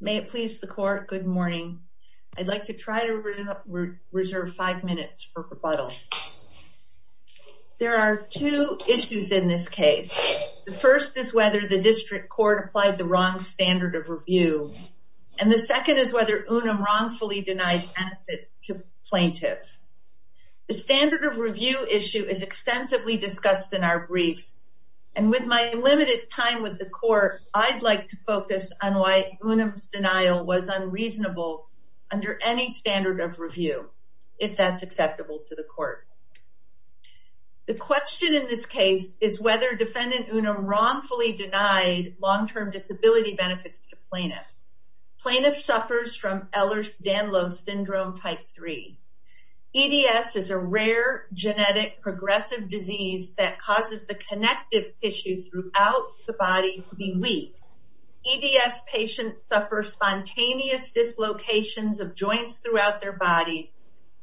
May it please the court, good morning. I'd like to try to reserve five minutes for rebuttal. There are two issues in this case. The first is whether the district court applied the wrong standard of review and the second is whether Unum wrongfully denied benefit to plaintiff. The standard of review issue is extensively discussed in our briefs and with my limited time with the plaintiff, I'd like to focus on why Unum's denial was unreasonable under any standard of review, if that's acceptable to the court. The question in this case is whether defendant Unum wrongfully denied long-term disability benefits to plaintiff. Plaintiff suffers from Ehlers-Danlos syndrome type 3. EDS is a rare genetic progressive disease that causes the connective tissue throughout the body to be weak. EDS patients suffer spontaneous dislocations of joints throughout their body,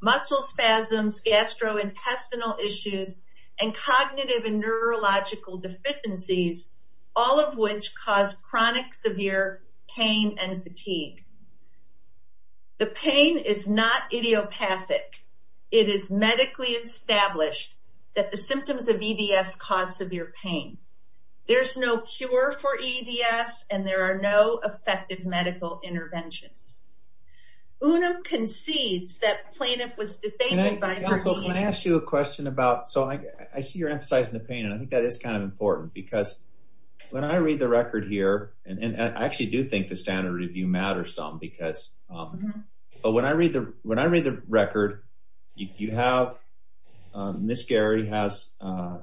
muscle spasms, gastrointestinal issues, and cognitive and neurological deficiencies, all of which cause chronic severe pain and fatigue. The pain is not idiopathic. It is medically established that the symptoms of EDS cause severe pain. There's no cure for EDS and there are no effective medical interventions. Unum concedes that plaintiff was defamed by her EDS. Can I ask you a question about, so I see you're emphasizing the pain and I think that is kind of important because when I read the record here, and I actually do think the standard of review matters some because, but when I read the record, you have Ms. Gary has a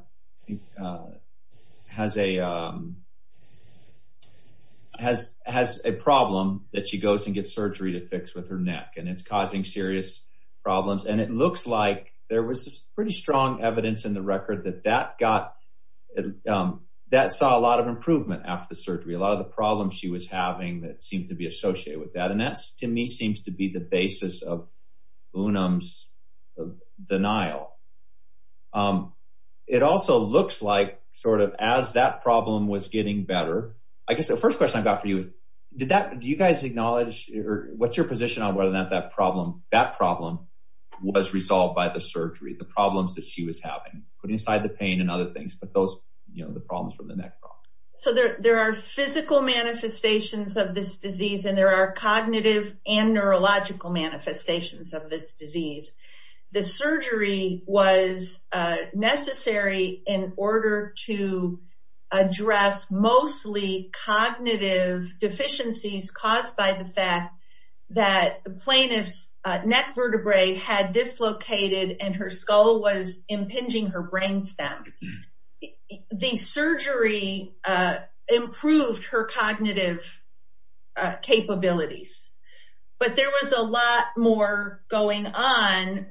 problem that she goes and gets surgery to fix with her neck and it's causing serious problems and it looks like there was pretty strong evidence in the record that that got, that saw a lot of improvement after the surgery. A lot of the problems she was having that seemed to be associated with that and that's to me seems to be the basis of Unum's denial. It also looks like sort of as that problem was getting better, I guess the first question I've got for you is, do you guys acknowledge or what's your position on whether or not that problem was resolved by the surgery, the problems that she was having, putting aside the pain and other things, but those, you know, the problems from the neck problem. So there are physical manifestations of this disease and there are cognitive and neurological manifestations of this disease. The surgery was necessary in order to address mostly cognitive deficiencies caused by the fact that the plaintiff's neck vertebrae had dislocated and her skull was impinging her brainstem. The surgery improved her cognitive capabilities but there was a lot more going on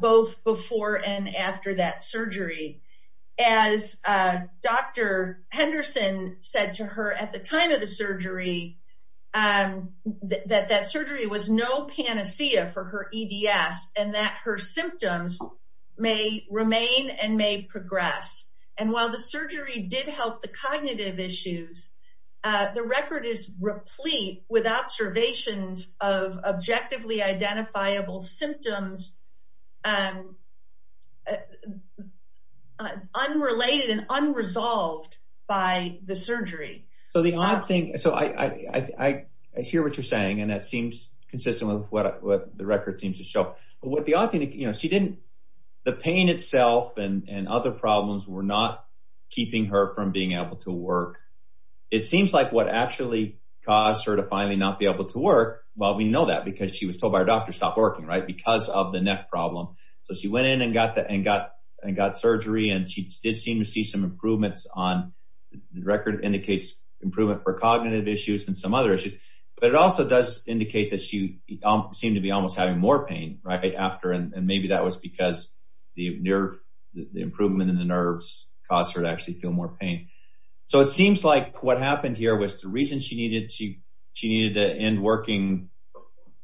both before and after that surgery. As Dr. Henderson said to her at the time of the surgery that that surgery was no panacea for her EDS and that her symptoms may remain and may progress. And while the surgery did help the cognitive issues, the record is replete with observations of objectively identifiable symptoms unrelated and unresolved by the surgery. So the odd thing, so I hear what you're saying and that seems consistent with what the odd thing, you know, she didn't, the pain itself and other problems were not keeping her from being able to work. It seems like what actually caused her to finally not be able to work, well we know that because she was told by her doctor stop working, right, because of the neck problem. So she went in and got surgery and she did seem to see some improvements on, the record indicates improvement for cognitive issues and some other issues, but it also does that she seemed to be almost having more pain right after and maybe that was because the improvement in the nerves caused her to actually feel more pain. So it seems like what happened here was the reason she needed to end working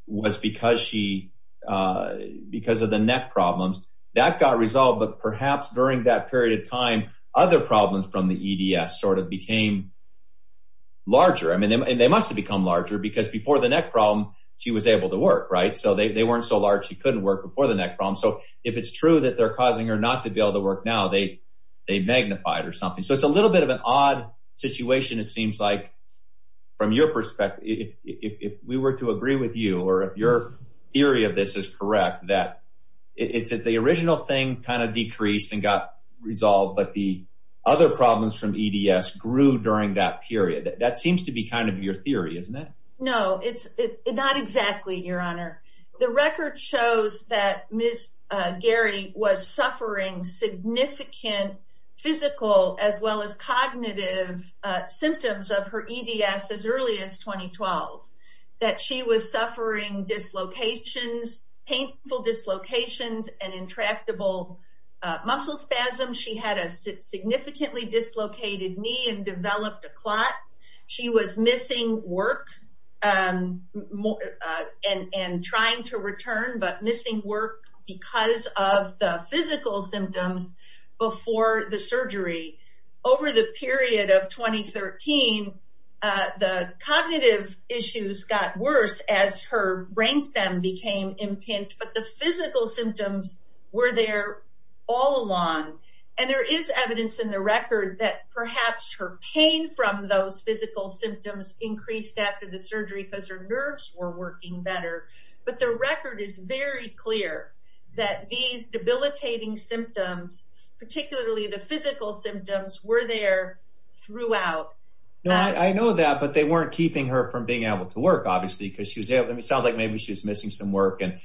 was because of the neck problems. That got resolved but perhaps during that period of time other problems from the EDS sort of became larger. I mean they must have become larger because before the neck problem she was able to work, right, so they weren't so large she couldn't work before the neck problem. So if it's true that they're causing her not to be able to work now, they magnified or something. So it's a little bit of an odd situation it seems like from your perspective, if we were to agree with you or if your theory of this is correct, that it's that the original thing kind of period. That seems to be kind of your theory, isn't it? No, it's not exactly, Your Honor. The record shows that Ms. Gary was suffering significant physical as well as cognitive symptoms of her EDS as early as 2012. That she was suffering dislocations, painful dislocations and intractable muscle spasms. She had a significantly dislocated knee and developed a clot. She was missing work and trying to return but missing work because of the physical symptoms before the surgery. Over the period of 2013, the cognitive issues got worse as her brainstem became impinged but the physical symptoms were there all along. And there is evidence in the record that perhaps her pain from those physical symptoms increased after the surgery because her nerves were working better. But the record is very clear that these debilitating symptoms, particularly the physical symptoms, were there throughout. No, I know that but they weren't keeping her from being able to work obviously because she was, it sounds like maybe she was missing some work and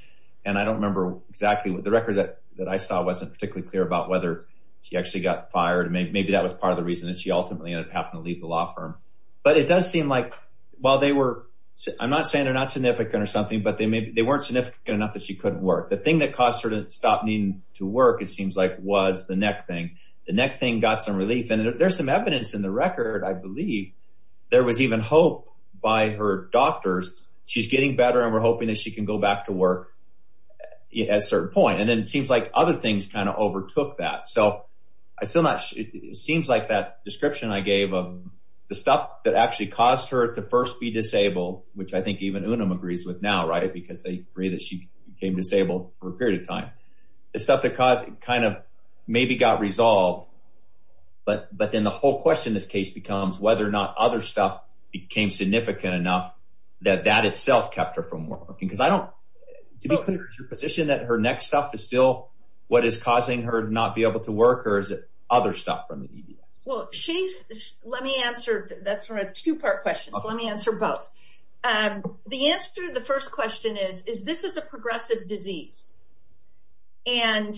and I don't remember exactly what the record that I saw wasn't particularly clear about whether she actually got fired and maybe that was part of the reason that she ultimately ended up having to leave the law firm. But it does seem like while they were, I'm not saying they're not significant or something, but they weren't significant enough that she couldn't work. The thing that caused her to stop needing to work it seems like was the neck thing. The neck thing got some relief and there's some evidence in the record, I believe, there was even hope by her doctors. She's getting better and we're hoping that she can go back to work at a certain point. And then it seems like other things kind of overtook that. So I still not, it seems like that description I gave of the stuff that actually caused her to first be disabled, which I think even Unum agrees with now, right, because they agree that she became disabled for a period of time. The stuff that caused it kind of maybe got resolved but but then the whole question this case becomes whether or not other stuff became significant enough that that itself kept her from working. Because I don't, to be clear, is your position that her neck stuff is still what is causing her to not be able to work or is it other stuff from the EDS? Well she's, let me answer, that's a two-part question, so let me answer both. The answer to the first question is, is this is a progressive disease. And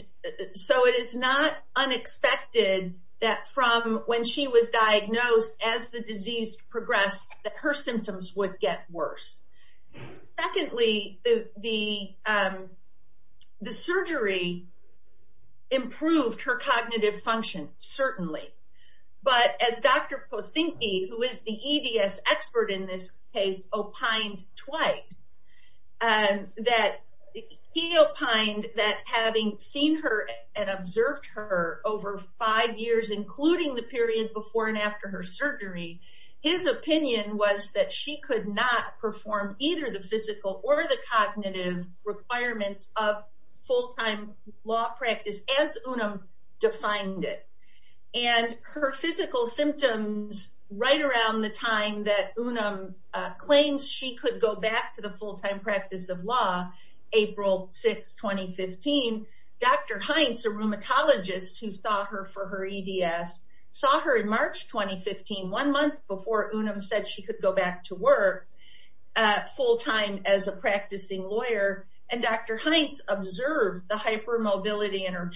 so it is not unexpected that from when she was diagnosed as the disease progressed that her symptoms would get worse. Secondly, the surgery improved her cognitive function, certainly. But as Dr. Posinke, who is the EDS expert in this case, opined twice, that he opined that having seen her and observed her over five years, including the period before and after her surgery, his opinion was that she could not perform either the physical or the cognitive requirements of full-time law practice as Unum defined it. And her physical symptoms right around the time that Unum claims she could go back to the full-time practice of law, April 6, 2015, Dr. Heinz, a rheumatologist who saw her for her EDS, saw her in March 2015, one month before Unum said she could go back to work full-time as a practicing lawyer. And Dr. Heinz observed the hypermobility in her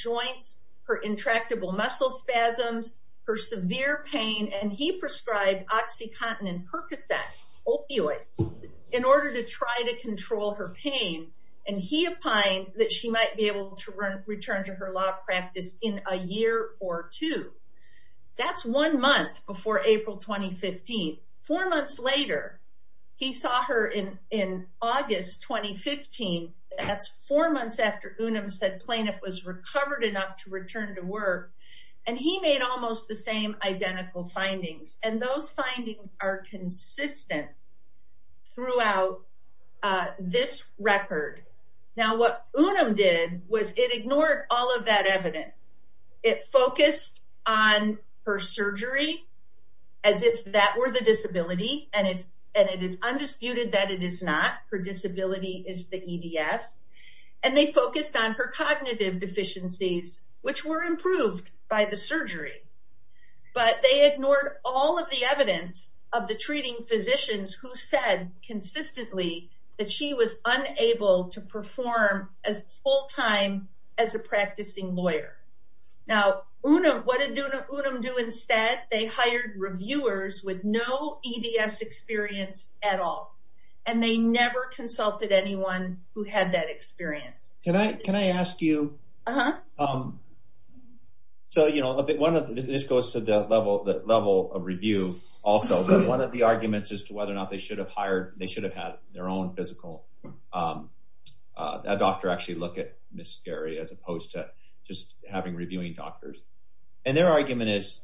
and he prescribed oxycontin and Percocet, opioids, in order to try to control her pain. And he opined that she might be able to return to her law practice in a year or two. That's one month before April 2015. Four months later, he saw her in August 2015. That's four months after Unum said plaintiff was recovered enough to return to work. And he made almost the same identical findings. And those findings are consistent throughout this record. Now, what Unum did was it ignored all of that evidence. It focused on her surgery as if that were the disability. And it is undisputed that it is not. Her disability is the EDS. And they focused on her cognitive deficiencies, which were improved by the surgery. But they ignored all of the evidence of the treating physicians who said consistently that she was unable to perform as full-time as a practicing lawyer. Now, what did Unum do instead? They hired reviewers with no EDS experience at all. And they never consulted anyone who had that experience. Can I ask you? Uh-huh. So, you know, this goes to the level of review also. But one of the arguments as to whether or not they should have had their own physical doctor actually look at Ms. Gary as opposed to just having reviewing doctors. And their argument is,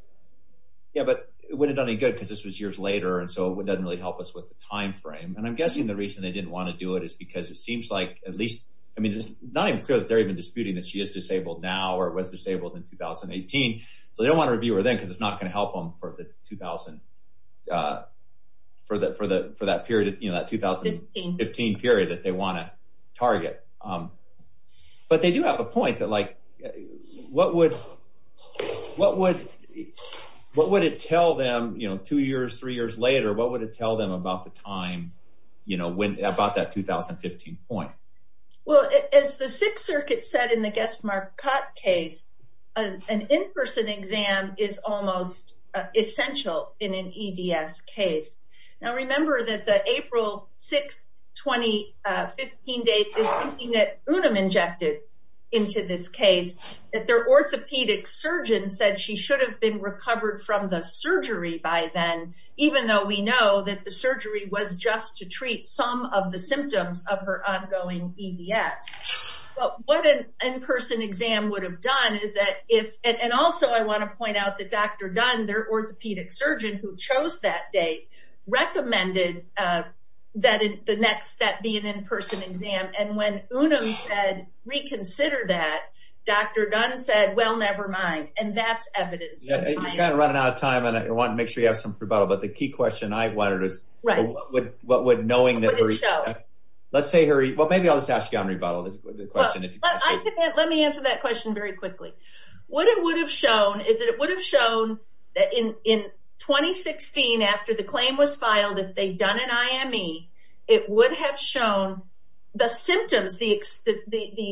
yeah, but it wouldn't have done any good because this was years later. And so it doesn't really help us with the timeframe. And I'm guessing the reason they didn't want to do it is because it seems like at least, I mean, it's not even clear that they're even disputing that she is disabled now or was disabled in 2018. So they don't want to review her then because it's not going to help them for the 2000, for that period, you know, that 2015 period that they want to target. But they do have a point that, like, what would it tell them, you know, two years, three years later, what would it tell them about the time, you know, when, about that 2015 point? Well, as the Sixth Circuit said in the Guest Marquette case, an in-person exam is almost essential in an EDS case. Now, remember that the April 6, 2015 date is something that UNUM injected into this case, that their orthopedic surgeon said she should have been recovered from the surgery by then, even though we know that the surgery was just to treat some of the symptoms of her ongoing EDS. But what an in-person exam would have done is that if, and also I want to point out that Dr. Dunn, their orthopedic surgeon who chose that date, recommended that the next step be an in-person exam. And when UNUM said reconsider that, Dr. Dunn said, well, never mind. And that's evidence. You're kind of running out of time, and I want to make sure you have some rebuttal, but the key question I wanted is, what would knowing that her, let's say her, well, maybe I'll just ask you on rebuttal, is the question, if you can. Let me answer that question very quickly. What it would have shown is that it would have shown that in 2016, after the claim was filed, if they'd done an IME, it would have shown the symptoms, the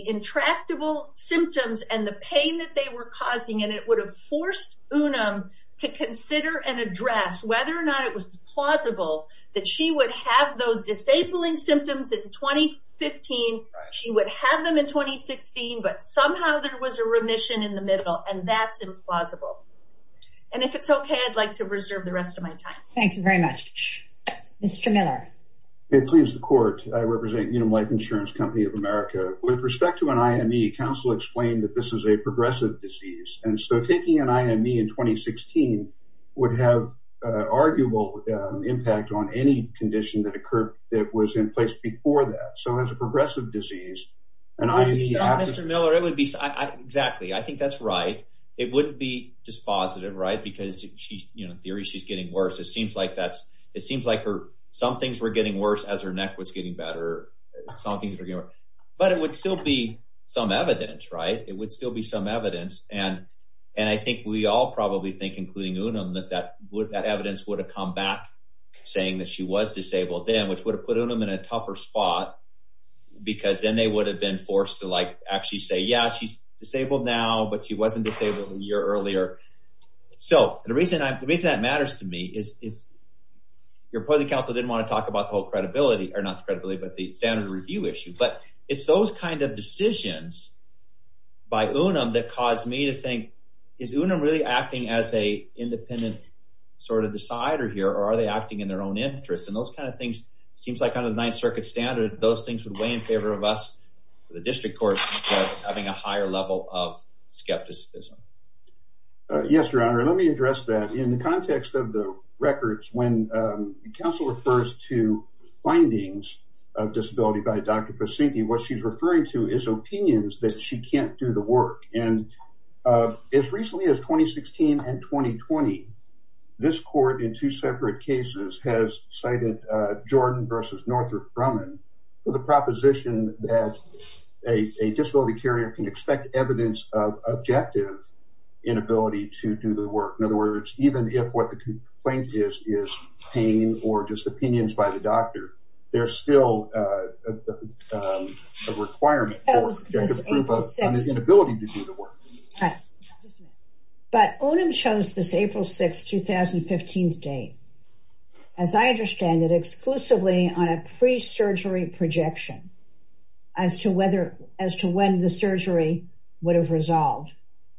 intractable symptoms and the pain that they were causing, and it would have forced UNUM to consider and address whether or not it was plausible that she would have those disabling symptoms in 2015, she would have them in 2016, but somehow there was a remission in the middle, and that's implausible. And if it's okay, I'd like to reserve the rest of my time. Thank you very much. Mr. Miller. It pleases the court. I represent UNUM Life Insurance Company of America. With respect to an IME, counsel explained that this is a progressive disease, and so taking an IME in 2016 would have an arguable impact on any condition that occurred that was in place before that. So as a progressive disease, an IME... Mr. Miller, it would be... Exactly. I think that's right. It wouldn't be dispositive, right, because she's, you know, in theory, she's getting worse. It seems like that's... It seems like some things were getting worse as her neck was getting better. Some things were getting worse. But it would still be some evidence, right? It would still be some evidence, and I think we all probably think, including UNUM, that that evidence would have come back saying that she was disabled then, which would have put UNUM in a tougher spot because then they would have been forced to, like, actually say, yeah, she's disabled now, but she wasn't disabled a year earlier. So the reason that matters to me is your opposing counsel didn't want to talk about the whole credibility, or not the credibility, but the standard review issue, but it's those kind of decisions by UNUM that caused me to think, is UNUM really acting as a independent sort of decider here, or are they acting in their own interest? And those kind of things seems like kind of the Ninth Circuit standard, those things would weigh in favor of us, the district court, having a higher level of skepticism. Yes, Your Records, when counsel refers to findings of disability by Dr. Pasinke, what she's referring to is opinions that she can't do the work. And as recently as 2016 and 2020, this court in two separate cases has cited Jordan versus Northrop Grumman for the proposition that a disability carrier can expect evidence of objective inability to do the work. In other words, even if what the complaint is, is pain or just opinions by the doctor, there's still a requirement to prove an inability to do the work. But UNUM chose this April 6, 2015 date, as I understand it, exclusively on a pre-surgery projection, as to whether, as to when the surgery would have resolved.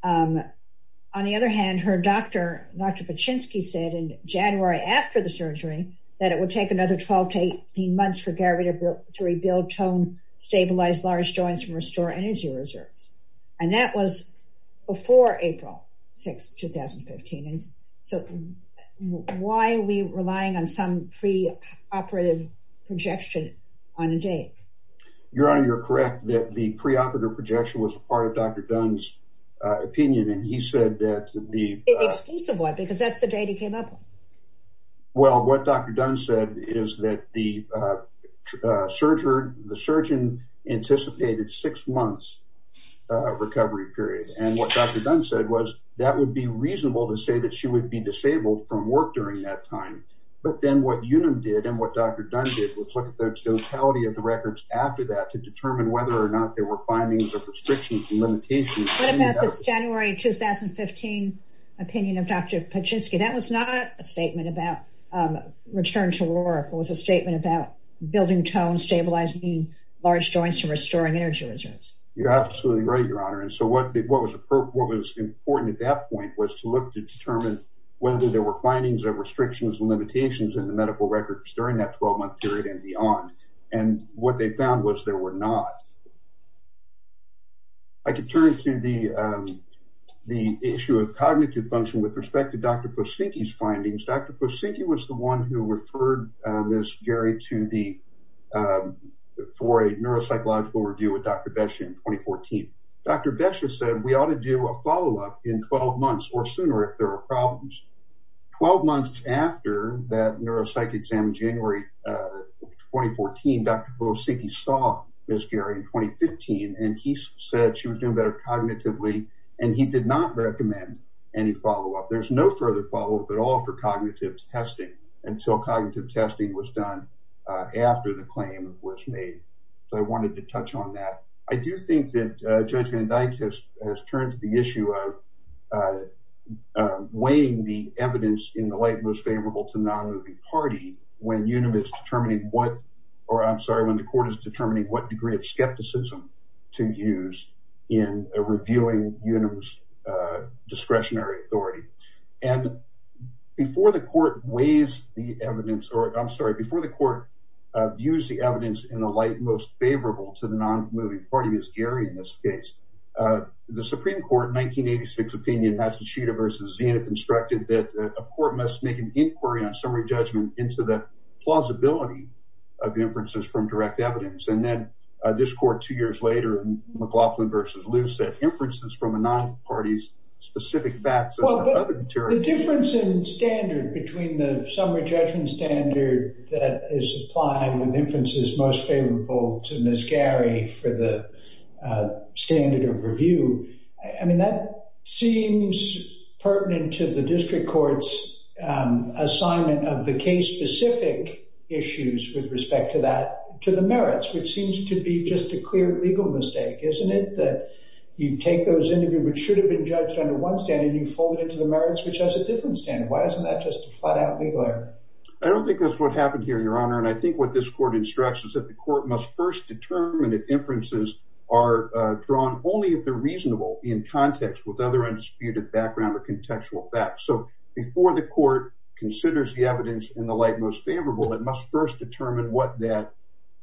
On the other hand, her doctor, Dr. Chinsky, said in January, after the surgery, that it would take another 12 to 18 months for Gary to rebuild tone, stabilize large joints, and restore energy reserves. And that was before April 6, 2015. And so why are we relying on some pre-operative projection on a date? Your Honor, you're correct that the pre-operative projection was part of Dr. Dunn's opinion, and he said that the... Well, what Dr. Dunn said is that the surgeon anticipated six months recovery period. And what Dr. Dunn said was, that would be reasonable to say that she would be disabled from work during that time. But then what UNUM did, and what Dr. Dunn did, was look at the totality of the records after that, to determine whether or not there were findings of restrictions and limitations... What about this January, 2015 opinion of Dr. Chinsky? That was not a statement about return to work. It was a statement about building tone, stabilizing large joints, and restoring energy reserves. You're absolutely right, Your Honor. And so what was important at that point was to look to determine whether there were findings of restrictions and limitations in the medical records during that 12 month period and beyond. And what they found was there were not. I could turn to the issue of cognitive function with respect to Dr. Posenki's findings. Dr. Posenki was the one who referred Ms. Gary to the... for a neuropsychological review with Dr. Beshe in 2014. Dr. Beshe said, we ought to do a follow-up in 12 months or sooner if there are problems. Twelve months after that neuropsych exam in January, 2014, Dr. Posenki saw Ms. Gary in 2015, and he said she was doing better cognitively, and he did not recommend any follow-up. There's no further follow-up at all for cognitive testing until cognitive testing was done after the claim was made. So I wanted to touch on that. I do think that Judge Van Dyke has turned to the issue of weighing the evidence in the light most favorable to non-moving party when Univis is determining what... or I'm reviewing Univis discretionary authority. And before the court weighs the evidence, or I'm sorry, before the court views the evidence in the light most favorable to the non-moving party, Ms. Gary in this case, the Supreme Court in 1986 opinion Hatshepsut versus Zianeth instructed that a court must make an inquiry on summary judgment into the plausibility of inferences from direct evidence. And then this court two years later in McLaughlin versus Luce said inferences from a non-party's specific facts... The difference in standard between the summary judgment standard that is applied with inferences most favorable to Ms. Gary for the standard of review, I mean, that seems pertinent to the district court's assignment of the case-specific issues with respect to the merits, which seems to be just a clear legal mistake, isn't it? That you take those into view which should have been judged under one standard and you fold it into the merits which has a different standard. Why isn't that just a flat-out legal error? I don't think that's what happened here, Your Honor, and I think what this court instructs is that the court must first determine if inferences are drawn only if they're reasonable in context with other undisputed background or contextual facts. So before the court considers the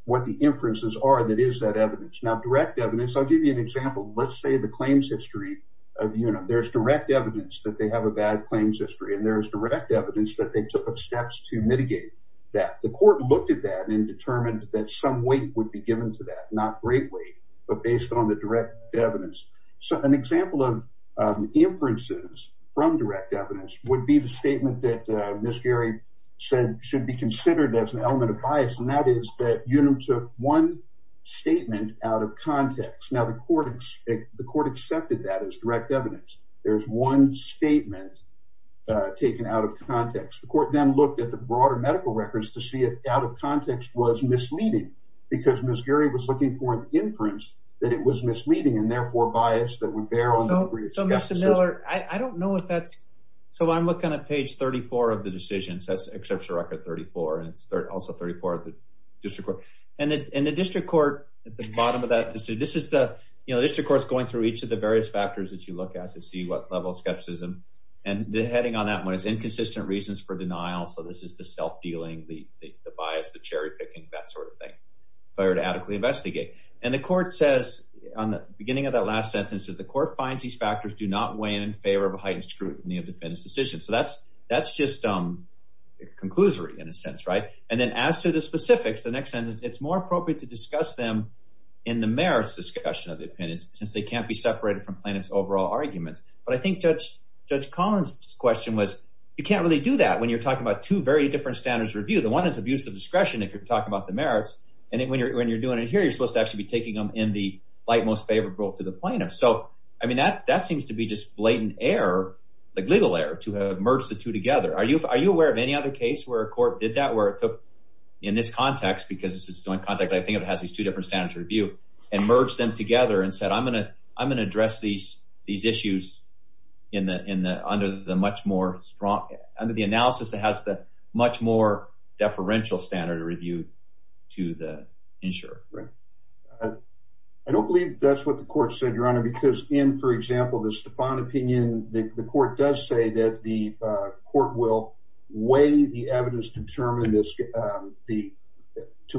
what the inferences are that is that evidence. Now direct evidence, I'll give you an example. Let's say the claims history of, you know, there's direct evidence that they have a bad claims history and there is direct evidence that they took up steps to mitigate that. The court looked at that and determined that some weight would be given to that, not great weight, but based on the direct evidence. So an example of inferences from direct evidence would be the statement that Ms. Gary said should be considered as an element of bias and that is that you know took one statement out of context. Now the court accepted that as direct evidence. There's one statement taken out of context. The court then looked at the broader medical records to see if out of context was misleading because Ms. Gary was looking for an inference that it was misleading and therefore bias that would bear on the degree of... So Mr. Miller, I don't know if that's, so I'm looking at page 34 of the decisions, that's exception record 34, and it's also 34 of the district court. And the district court, at the bottom of that, this is the, you know, district courts going through each of the various factors that you look at to see what level of skepticism and the heading on that one is inconsistent reasons for denial. So this is the self-dealing, the bias, the cherry-picking, that sort of thing. If I were to adequately investigate. And the court says, on the beginning of that last sentence, that the court finds these factors do not weigh in favor of a heightened scrutiny of defendants' decisions. So that's just a conclusory, in a sense, right? And then as to the specifics, the next sentence, it's more appropriate to discuss them in the merits discussion of the opinions since they can't be separated from plaintiff's overall arguments. But I think Judge Collins' question was, you can't really do that when you're talking about two very different standards of review. The one is abuse of discretion, if you're talking about the merits, and when you're doing it here, you're supposed to actually be taking them in the light most favorable to the plaintiff. So, I mean, that seems to be just blatant error, like are you aware of any other case where a court did that, where it took, in this context, because it's a joint context, I think it has these two different standards of review, and merged them together and said, I'm going to address these issues under the analysis that has the much more deferential standard of review to the insurer. I don't believe that's what the court said, Your Honor, because in, for instance, the court does say that the court will weigh the evidence determined to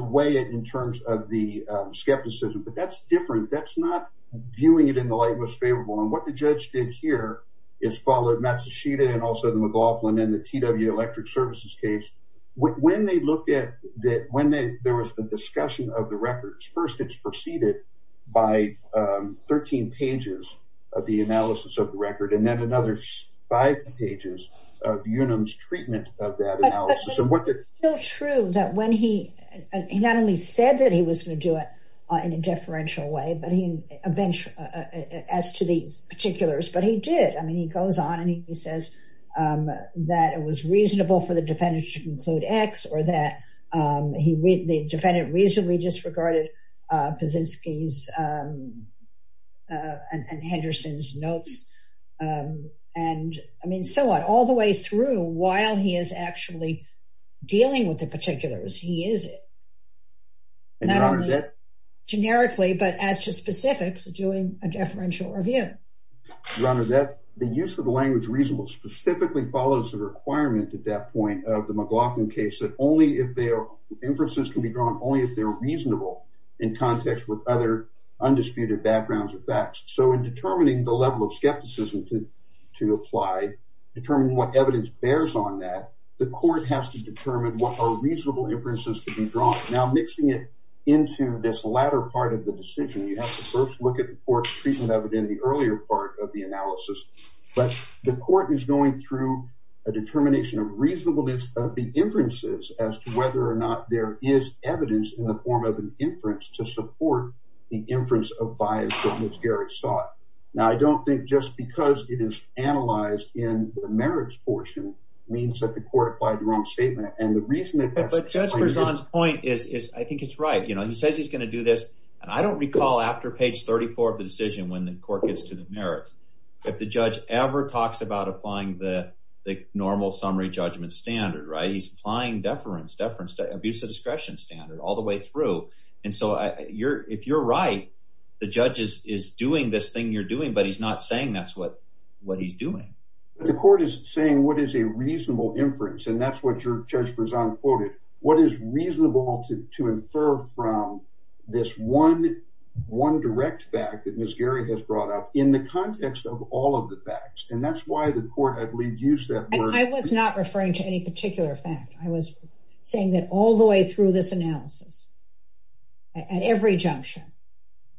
weigh it in terms of the skepticism, but that's different. That's not viewing it in the light most favorable, and what the judge did here is follow Matsushita and also the McLaughlin and the TW Electric Services case. When they looked at that, when there was a discussion of the records, first it's preceded by 13 pages of the analysis of the record, and then another five pages of Unum's treatment of that analysis. But it's still true that when he, he not only said that he was going to do it in a deferential way, but he eventually, as to the particulars, but he did. I mean, he goes on and he says that it was reasonable for the defendant to conclude X, or that the defendant reasonably disregarded Kaczynski's and Henderson's notes, and I mean, so on, all the way through while he is actually dealing with the particulars, he is it. Not only generically, but as to specifics, doing a deferential review. Your Honor, that, the use of the language reasonable specifically follows the requirement at that point of the McLaughlin case that only if inferences can be drawn, only if they're reasonable in context with other undisputed backgrounds or facts. So, in determining the level of skepticism to apply, determining what evidence bears on that, the court has to determine what are reasonable inferences to be drawn. Now, mixing it into this latter part of the decision, you have to first look at the court's treatment of it in the earlier part of the analysis, but the court is going through a determination of reasonableness of the inferences as to whether or not there is evidence in the form of an inference to support the inference of bias that Ms. Garrett sought. Now, I don't think just because it is analyzed in the merits portion means that the court applied the wrong statement, and the reason that that's- But Judge Berzon's point is, I think it's right. You know, he says he's going to do this, and I don't recall after page 34 of the decision when the court gets to the merits, if the judge ever talks about applying the normal summary judgment standard, right? He's applying deference, abuse of discretion standard all the way through. And so, if you're right, the judge is doing this thing you're doing, but he's not saying that's what he's doing. But the court is saying what is a reasonable inference, and that's what Judge Berzon quoted. What is reasonable to infer from this one direct fact that in the context of all of the facts, and that's why the court, I believe, used that word- I was not referring to any particular fact. I was saying that all the way through this analysis, at every junction,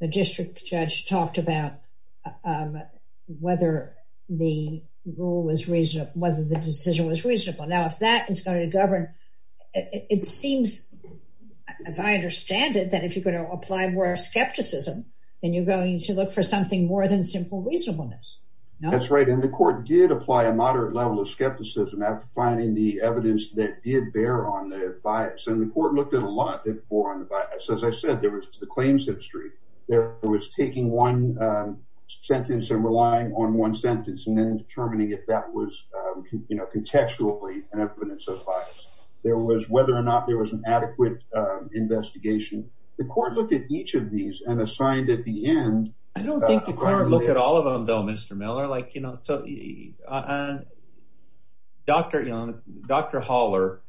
the district judge talked about whether the rule was reasonable, whether the decision was reasonable. Now, if that is going to govern, it seems, as I understand it, that if you're going to apply more skepticism, then you're going to look for something more than simple reasonableness. That's right, and the court did apply a moderate level of skepticism after finding the evidence that did bear on the bias, and the court looked at a lot that bore on the bias. As I said, there was the claims history. There was taking one sentence and relying on one sentence and then determining if that was, you know, contextually an evidence of bias. There was whether or not there was an adequate investigation. The court looked at each of these and assigned at the end- I don't think the court looked at all of them, though, Mr. Miller. Like, you know, so Dr. Haller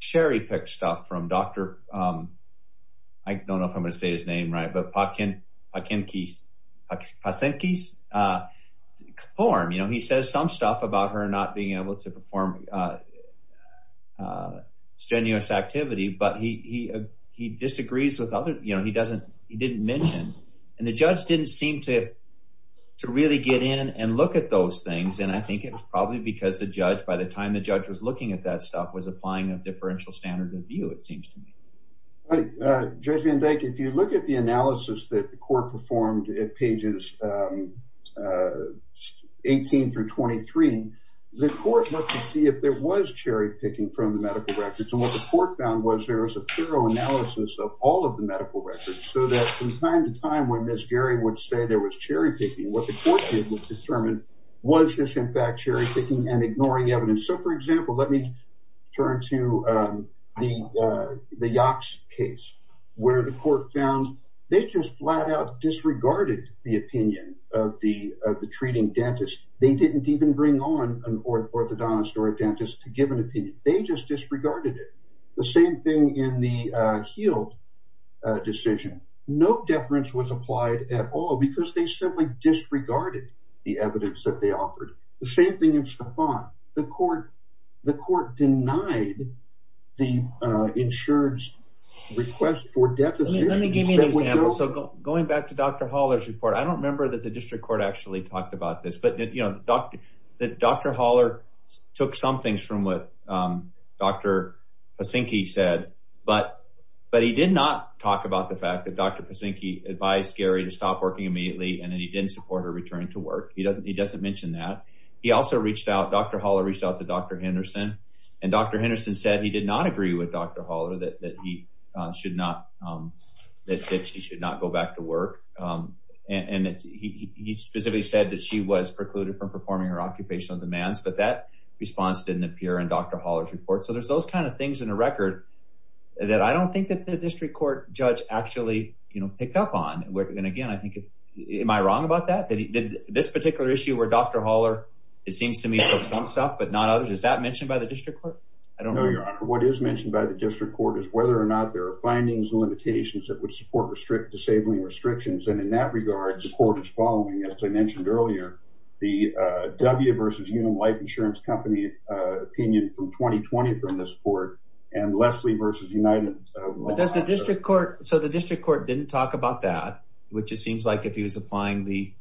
cherry-picked stuff from Dr. I don't know if I'm going to say his name right, but Pachinki's form. You know, he says some stuff about her not being able to perform strenuous activity, but he disagrees with other- you know, he doesn't- and the judge didn't seem to really get in and look at those things, and I think it was probably because the judge, by the time the judge was looking at that stuff, was applying a differential standard of view, it seems to me. Judge Van Dyke, if you look at the analysis that the court performed at pages 18 through 23, the court looked to see if there was cherry-picking from the medical records, and what the court found was there was a thorough analysis of all of the medical records so that from time to time when Ms. Geary would say there was cherry-picking, what the court did was determine was this in fact cherry-picking and ignoring evidence. So, for example, let me turn to the Yaks case, where the court found they just flat-out disregarded the opinion of the treating dentist. They didn't even bring on an orthodontist or a dentist to give an opinion. They just disregarded it. The same thing in the Heald decision. No deference was applied at all because they simply disregarded the evidence that they offered. The same thing in Staphon. The court denied the insurance request for deposition. Let me give you an example. So, going back to Dr. Haller's report, I don't remember that the district court actually talked about this, but Dr. Haller took some things from what Dr. Pasinke said, but he did not talk about the fact that Dr. Pasinke advised Geary to stop working immediately and that he didn't support her return to work. He doesn't mention that. He also reached out, Dr. Haller reached out to Dr. Henderson, and Dr. Henderson said he did not agree with Dr. Haller that she should not go back to work, and he specifically said that she was precluded from performing her occupational demands, but that response didn't appear in Dr. Haller's record that I don't think that the district court judge actually picked up on. And again, am I wrong about that, that this particular issue where Dr. Haller, it seems to me, took some stuff but not others, is that mentioned by the district court? I don't know. No, Your Honor. What is mentioned by the district court is whether or not there are findings and limitations that would support disabling restrictions, and in that regard, the court is following, as I mentioned earlier, the W versus Unum Life Insurance Company opinion from 2020 from this court, and Leslie versus United. But does the district court, so the district court didn't talk about that, which it seems like if he was applying the,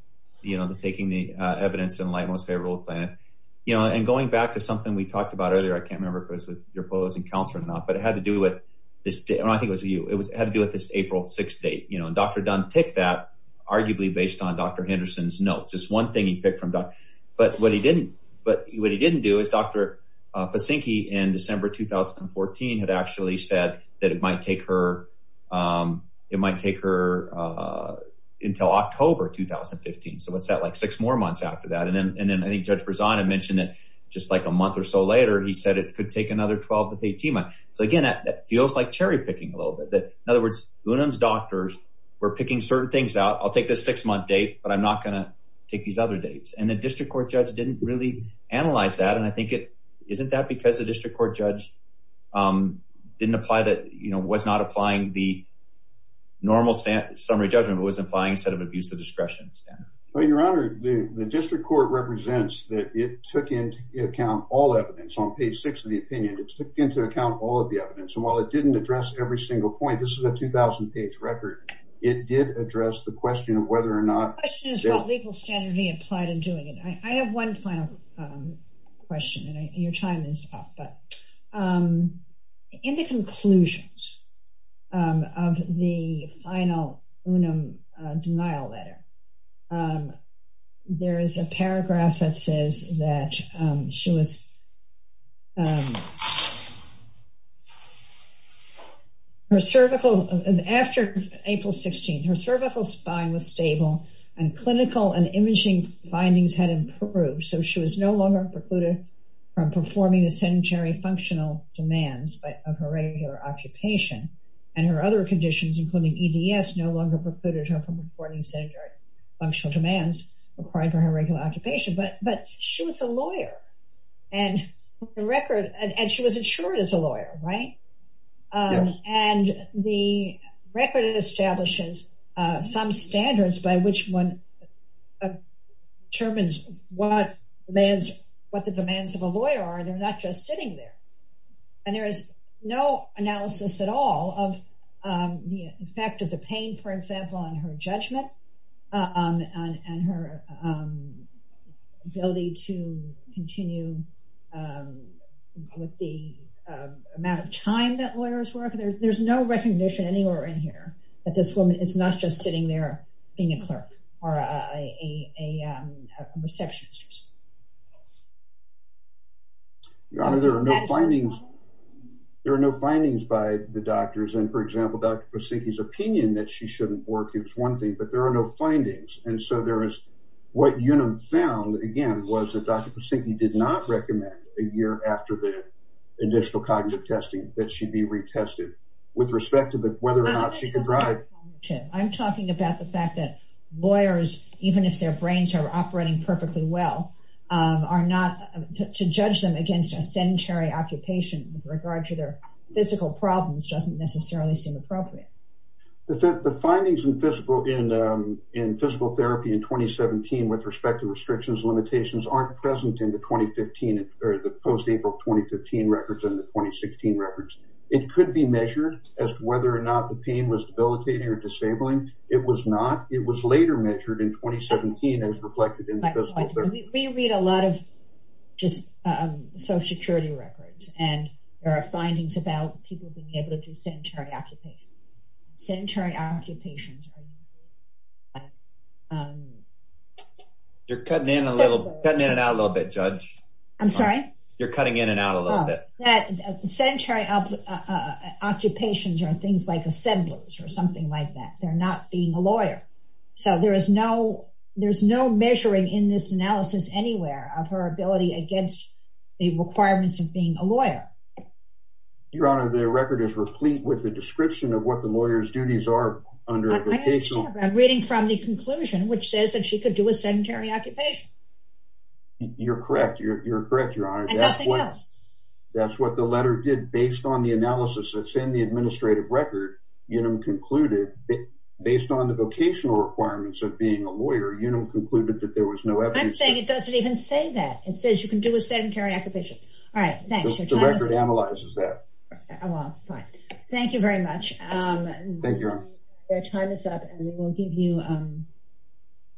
you know, the taking the evidence in light, most favorable plan, you know, and going back to something we talked about earlier, I can't remember if it was with your opposing counselor or not, but it had to do with this, and I think it was you, it had to do with this April 6th date, you know, and Dr. Dunn picked that arguably based on Dr. Henderson's notes. It's one thing he picked from Dr., but what he didn't, but what he didn't do is Dr. Pasinke in December 2014 had actually said that it might take her, it might take her until October 2015. So what's that like six more months after that? And then, and then I think Judge Berzana mentioned that just like a month or so later, he said it could take another 12 to 18 months. So again, that feels like cherry picking a little bit that, in other words, Unum's doctors were picking certain things out. I'll take this six month date, but I'm not going to take these other dates, and the district court judge didn't really analyze that, and I think it, isn't that because the district court judge didn't apply that, you know, was not applying the normal summary judgment, but was implying a set of abuse of discretion standards? Well, your honor, the district court represents that it took into account all evidence on page six of the opinion. It took into account all of the evidence, and while it didn't address every single point, this is a 2,000 page record, it did address the question of whether or not... The question is what legal standard he applied in doing it. I have one final question, and your time is up, but in the conclusions of the final Unum denial letter, there is a paragraph that says that she was, her cervical, after April 16th, her cervical spine was stable, and clinical and imaging findings had precluded her from performing the sedentary functional demands of her regular occupation, and her other conditions, including EDS, no longer precluded her from performing sedentary functional demands required for her regular occupation, but she was a lawyer, and the record, and she was insured as a lawyer, right? And the record establishes some standards by which one determines what the demands of a lawyer are, they're not just sitting there, and there is no analysis at all of the effect of the pain, for example, on her judgment, and her ability to continue with the amount of time that lawyers work. There's no recognition anywhere in here that this woman is not just sitting there being a clerk, or a receptionist. Your Honor, there are no findings, there are no findings by the doctors, and for example, Dr. Pasinke's opinion that she shouldn't work is one thing, but there are no findings, and so there is, what Unum found, again, was that Dr. Pasinke did not recommend a year after the additional cognitive testing that she'd be retested, with respect to whether or not she could drive. I'm talking about the fact that lawyers, even if their brains are operating perfectly well, are not, to judge them against a sedentary occupation with regard to their physical problems doesn't necessarily seem appropriate. The findings in physical therapy in 2017 with respect to restrictions and limitations aren't present in the 2015, or the post-April 2015 records and the disabling, it was not, it was later measured in 2017 as reflected in physical therapy. We read a lot of just social security records, and there are findings about people being able to do sedentary occupations, sedentary occupations. You're cutting in a little, cutting in and out a little bit, Judge. I'm sorry? You're cutting in and out a little bit. Sedentary occupations are things like that. They're not being a lawyer. So there is no, there's no measuring in this analysis anywhere of her ability against the requirements of being a lawyer. Your Honor, the record is replete with the description of what the lawyer's duties are under a vocational... I understand, but I'm reading from the conclusion, which says that she could do a sedentary occupation. You're correct. You're correct, Your Honor. And nothing else. That's what the letter did, based on the analysis that's in the administrative record, Unum concluded, based on the vocational requirements of being a lawyer, Unum concluded that there was no evidence... I'm saying it doesn't even say that. It says you can do a sedentary occupation. All right, thanks. The record analyzes that. Well, fine. Thank you very much. Thank you, Your Honor. Your time is up, and we will give you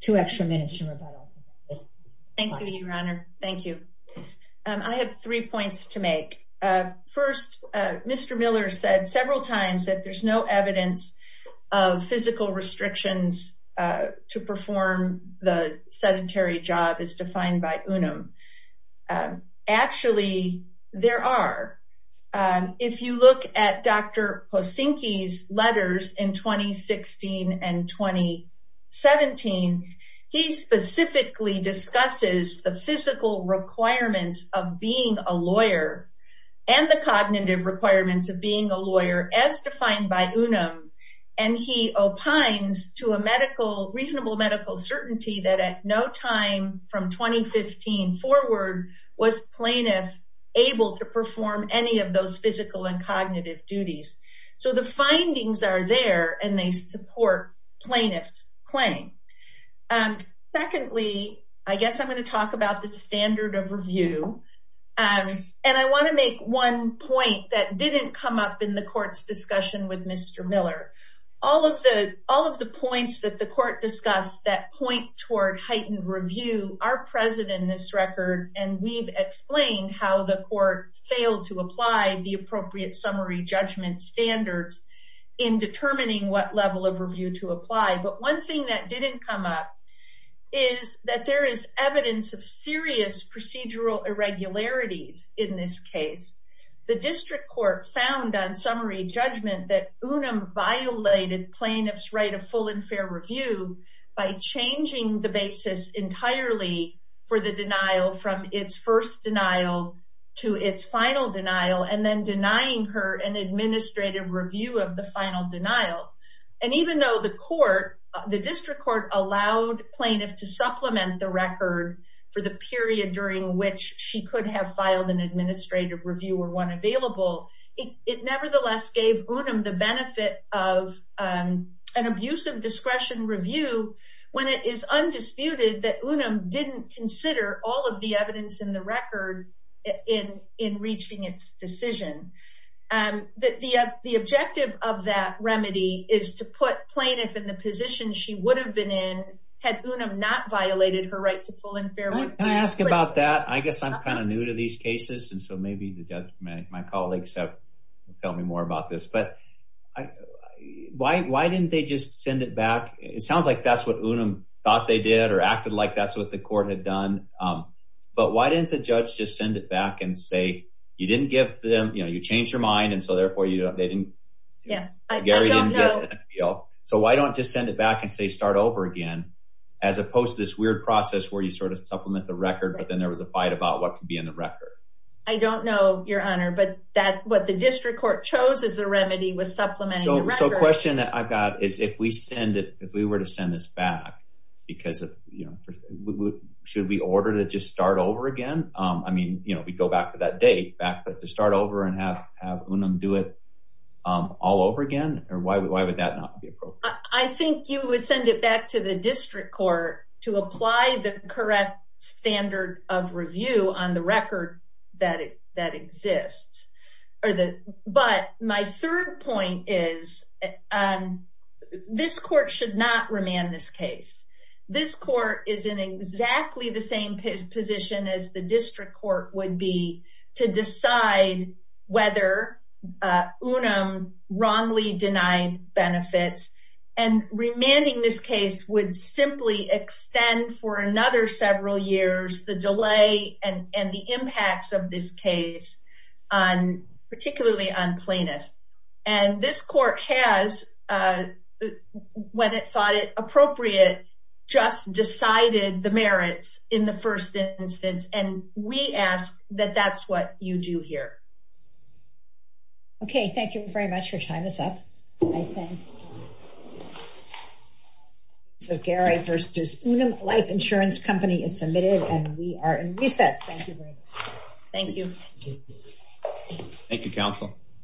two extra minutes to rebuttal. Thank you, Your Honor. Thank you. I have three points to make. First, Mr. Miller said several times that there's no evidence of physical restrictions to perform the sedentary job as defined by Unum. Actually, there are. If you look at Dr. Posinke's letters in 2016 and 2017, he specifically discusses the physical requirements of being a lawyer and the cognitive requirements of being a lawyer as defined by Unum, and he opines to a reasonable medical certainty that at no time from 2015 forward was plaintiff able to perform any of those physical and cognitive duties. So the claim. Secondly, I guess I'm going to talk about the standard of review, and I want to make one point that didn't come up in the court's discussion with Mr. Miller. All of the points that the court discussed that point toward heightened review are present in this record, and we've explained how the court failed to apply the appropriate summary judgment standards in determining what level of review to apply. But one thing that didn't come up is that there is evidence of serious procedural irregularities in this case. The district court found on summary judgment that Unum violated plaintiff's right of full and fair review by changing the basis entirely for the denial from its first denial to its final denial, and then denying her an administrative review of the final denial. And even though the court, the district court allowed plaintiff to supplement the record for the period during which she could have filed an administrative review or one available, it nevertheless gave Unum the benefit of an abuse of discretion review when it is undisputed that Unum didn't consider all of the evidence in the record in reaching its decision. And the objective of that remedy is to put plaintiff in the position she would have been in had Unum not violated her right to full and fair review. Can I ask about that? I guess I'm kind of new to these cases, and so maybe the judge, my colleagues have to tell me more about this, but why didn't they just send it back? It sounds like that's what Unum thought they did or acted like that's what the court had done, but why didn't the judge just send it back and you didn't give them, you know, you changed your mind, and so therefore they didn't, Gary didn't get an appeal. So why don't just send it back and say start over again, as opposed to this weird process where you sort of supplement the record, but then there was a fight about what could be in the record. I don't know, your honor, but that what the district court chose as the remedy was supplementing the record. So question that I've got is if we send it, if we were to send this back, because of, you know, should we order to just start over again? I mean, you know, we'd go back to that date, back to start over and have Unum do it all over again, or why would that not be appropriate? I think you would send it back to the district court to apply the correct standard of review on the record that exists, but my third point is this court should not remand this case. This court is in exactly the same position as the to decide whether Unum wrongly denied benefits and remanding this case would simply extend for another several years, the delay and the impacts of this case on particularly on plaintiff. And this court has, when it thought it that's what you do here. Okay, thank you very much. Your time is up. So Gary versus Unum Life Insurance Company is submitted and we are in recess. Thank you very much. Thank you. Thank you, counsel.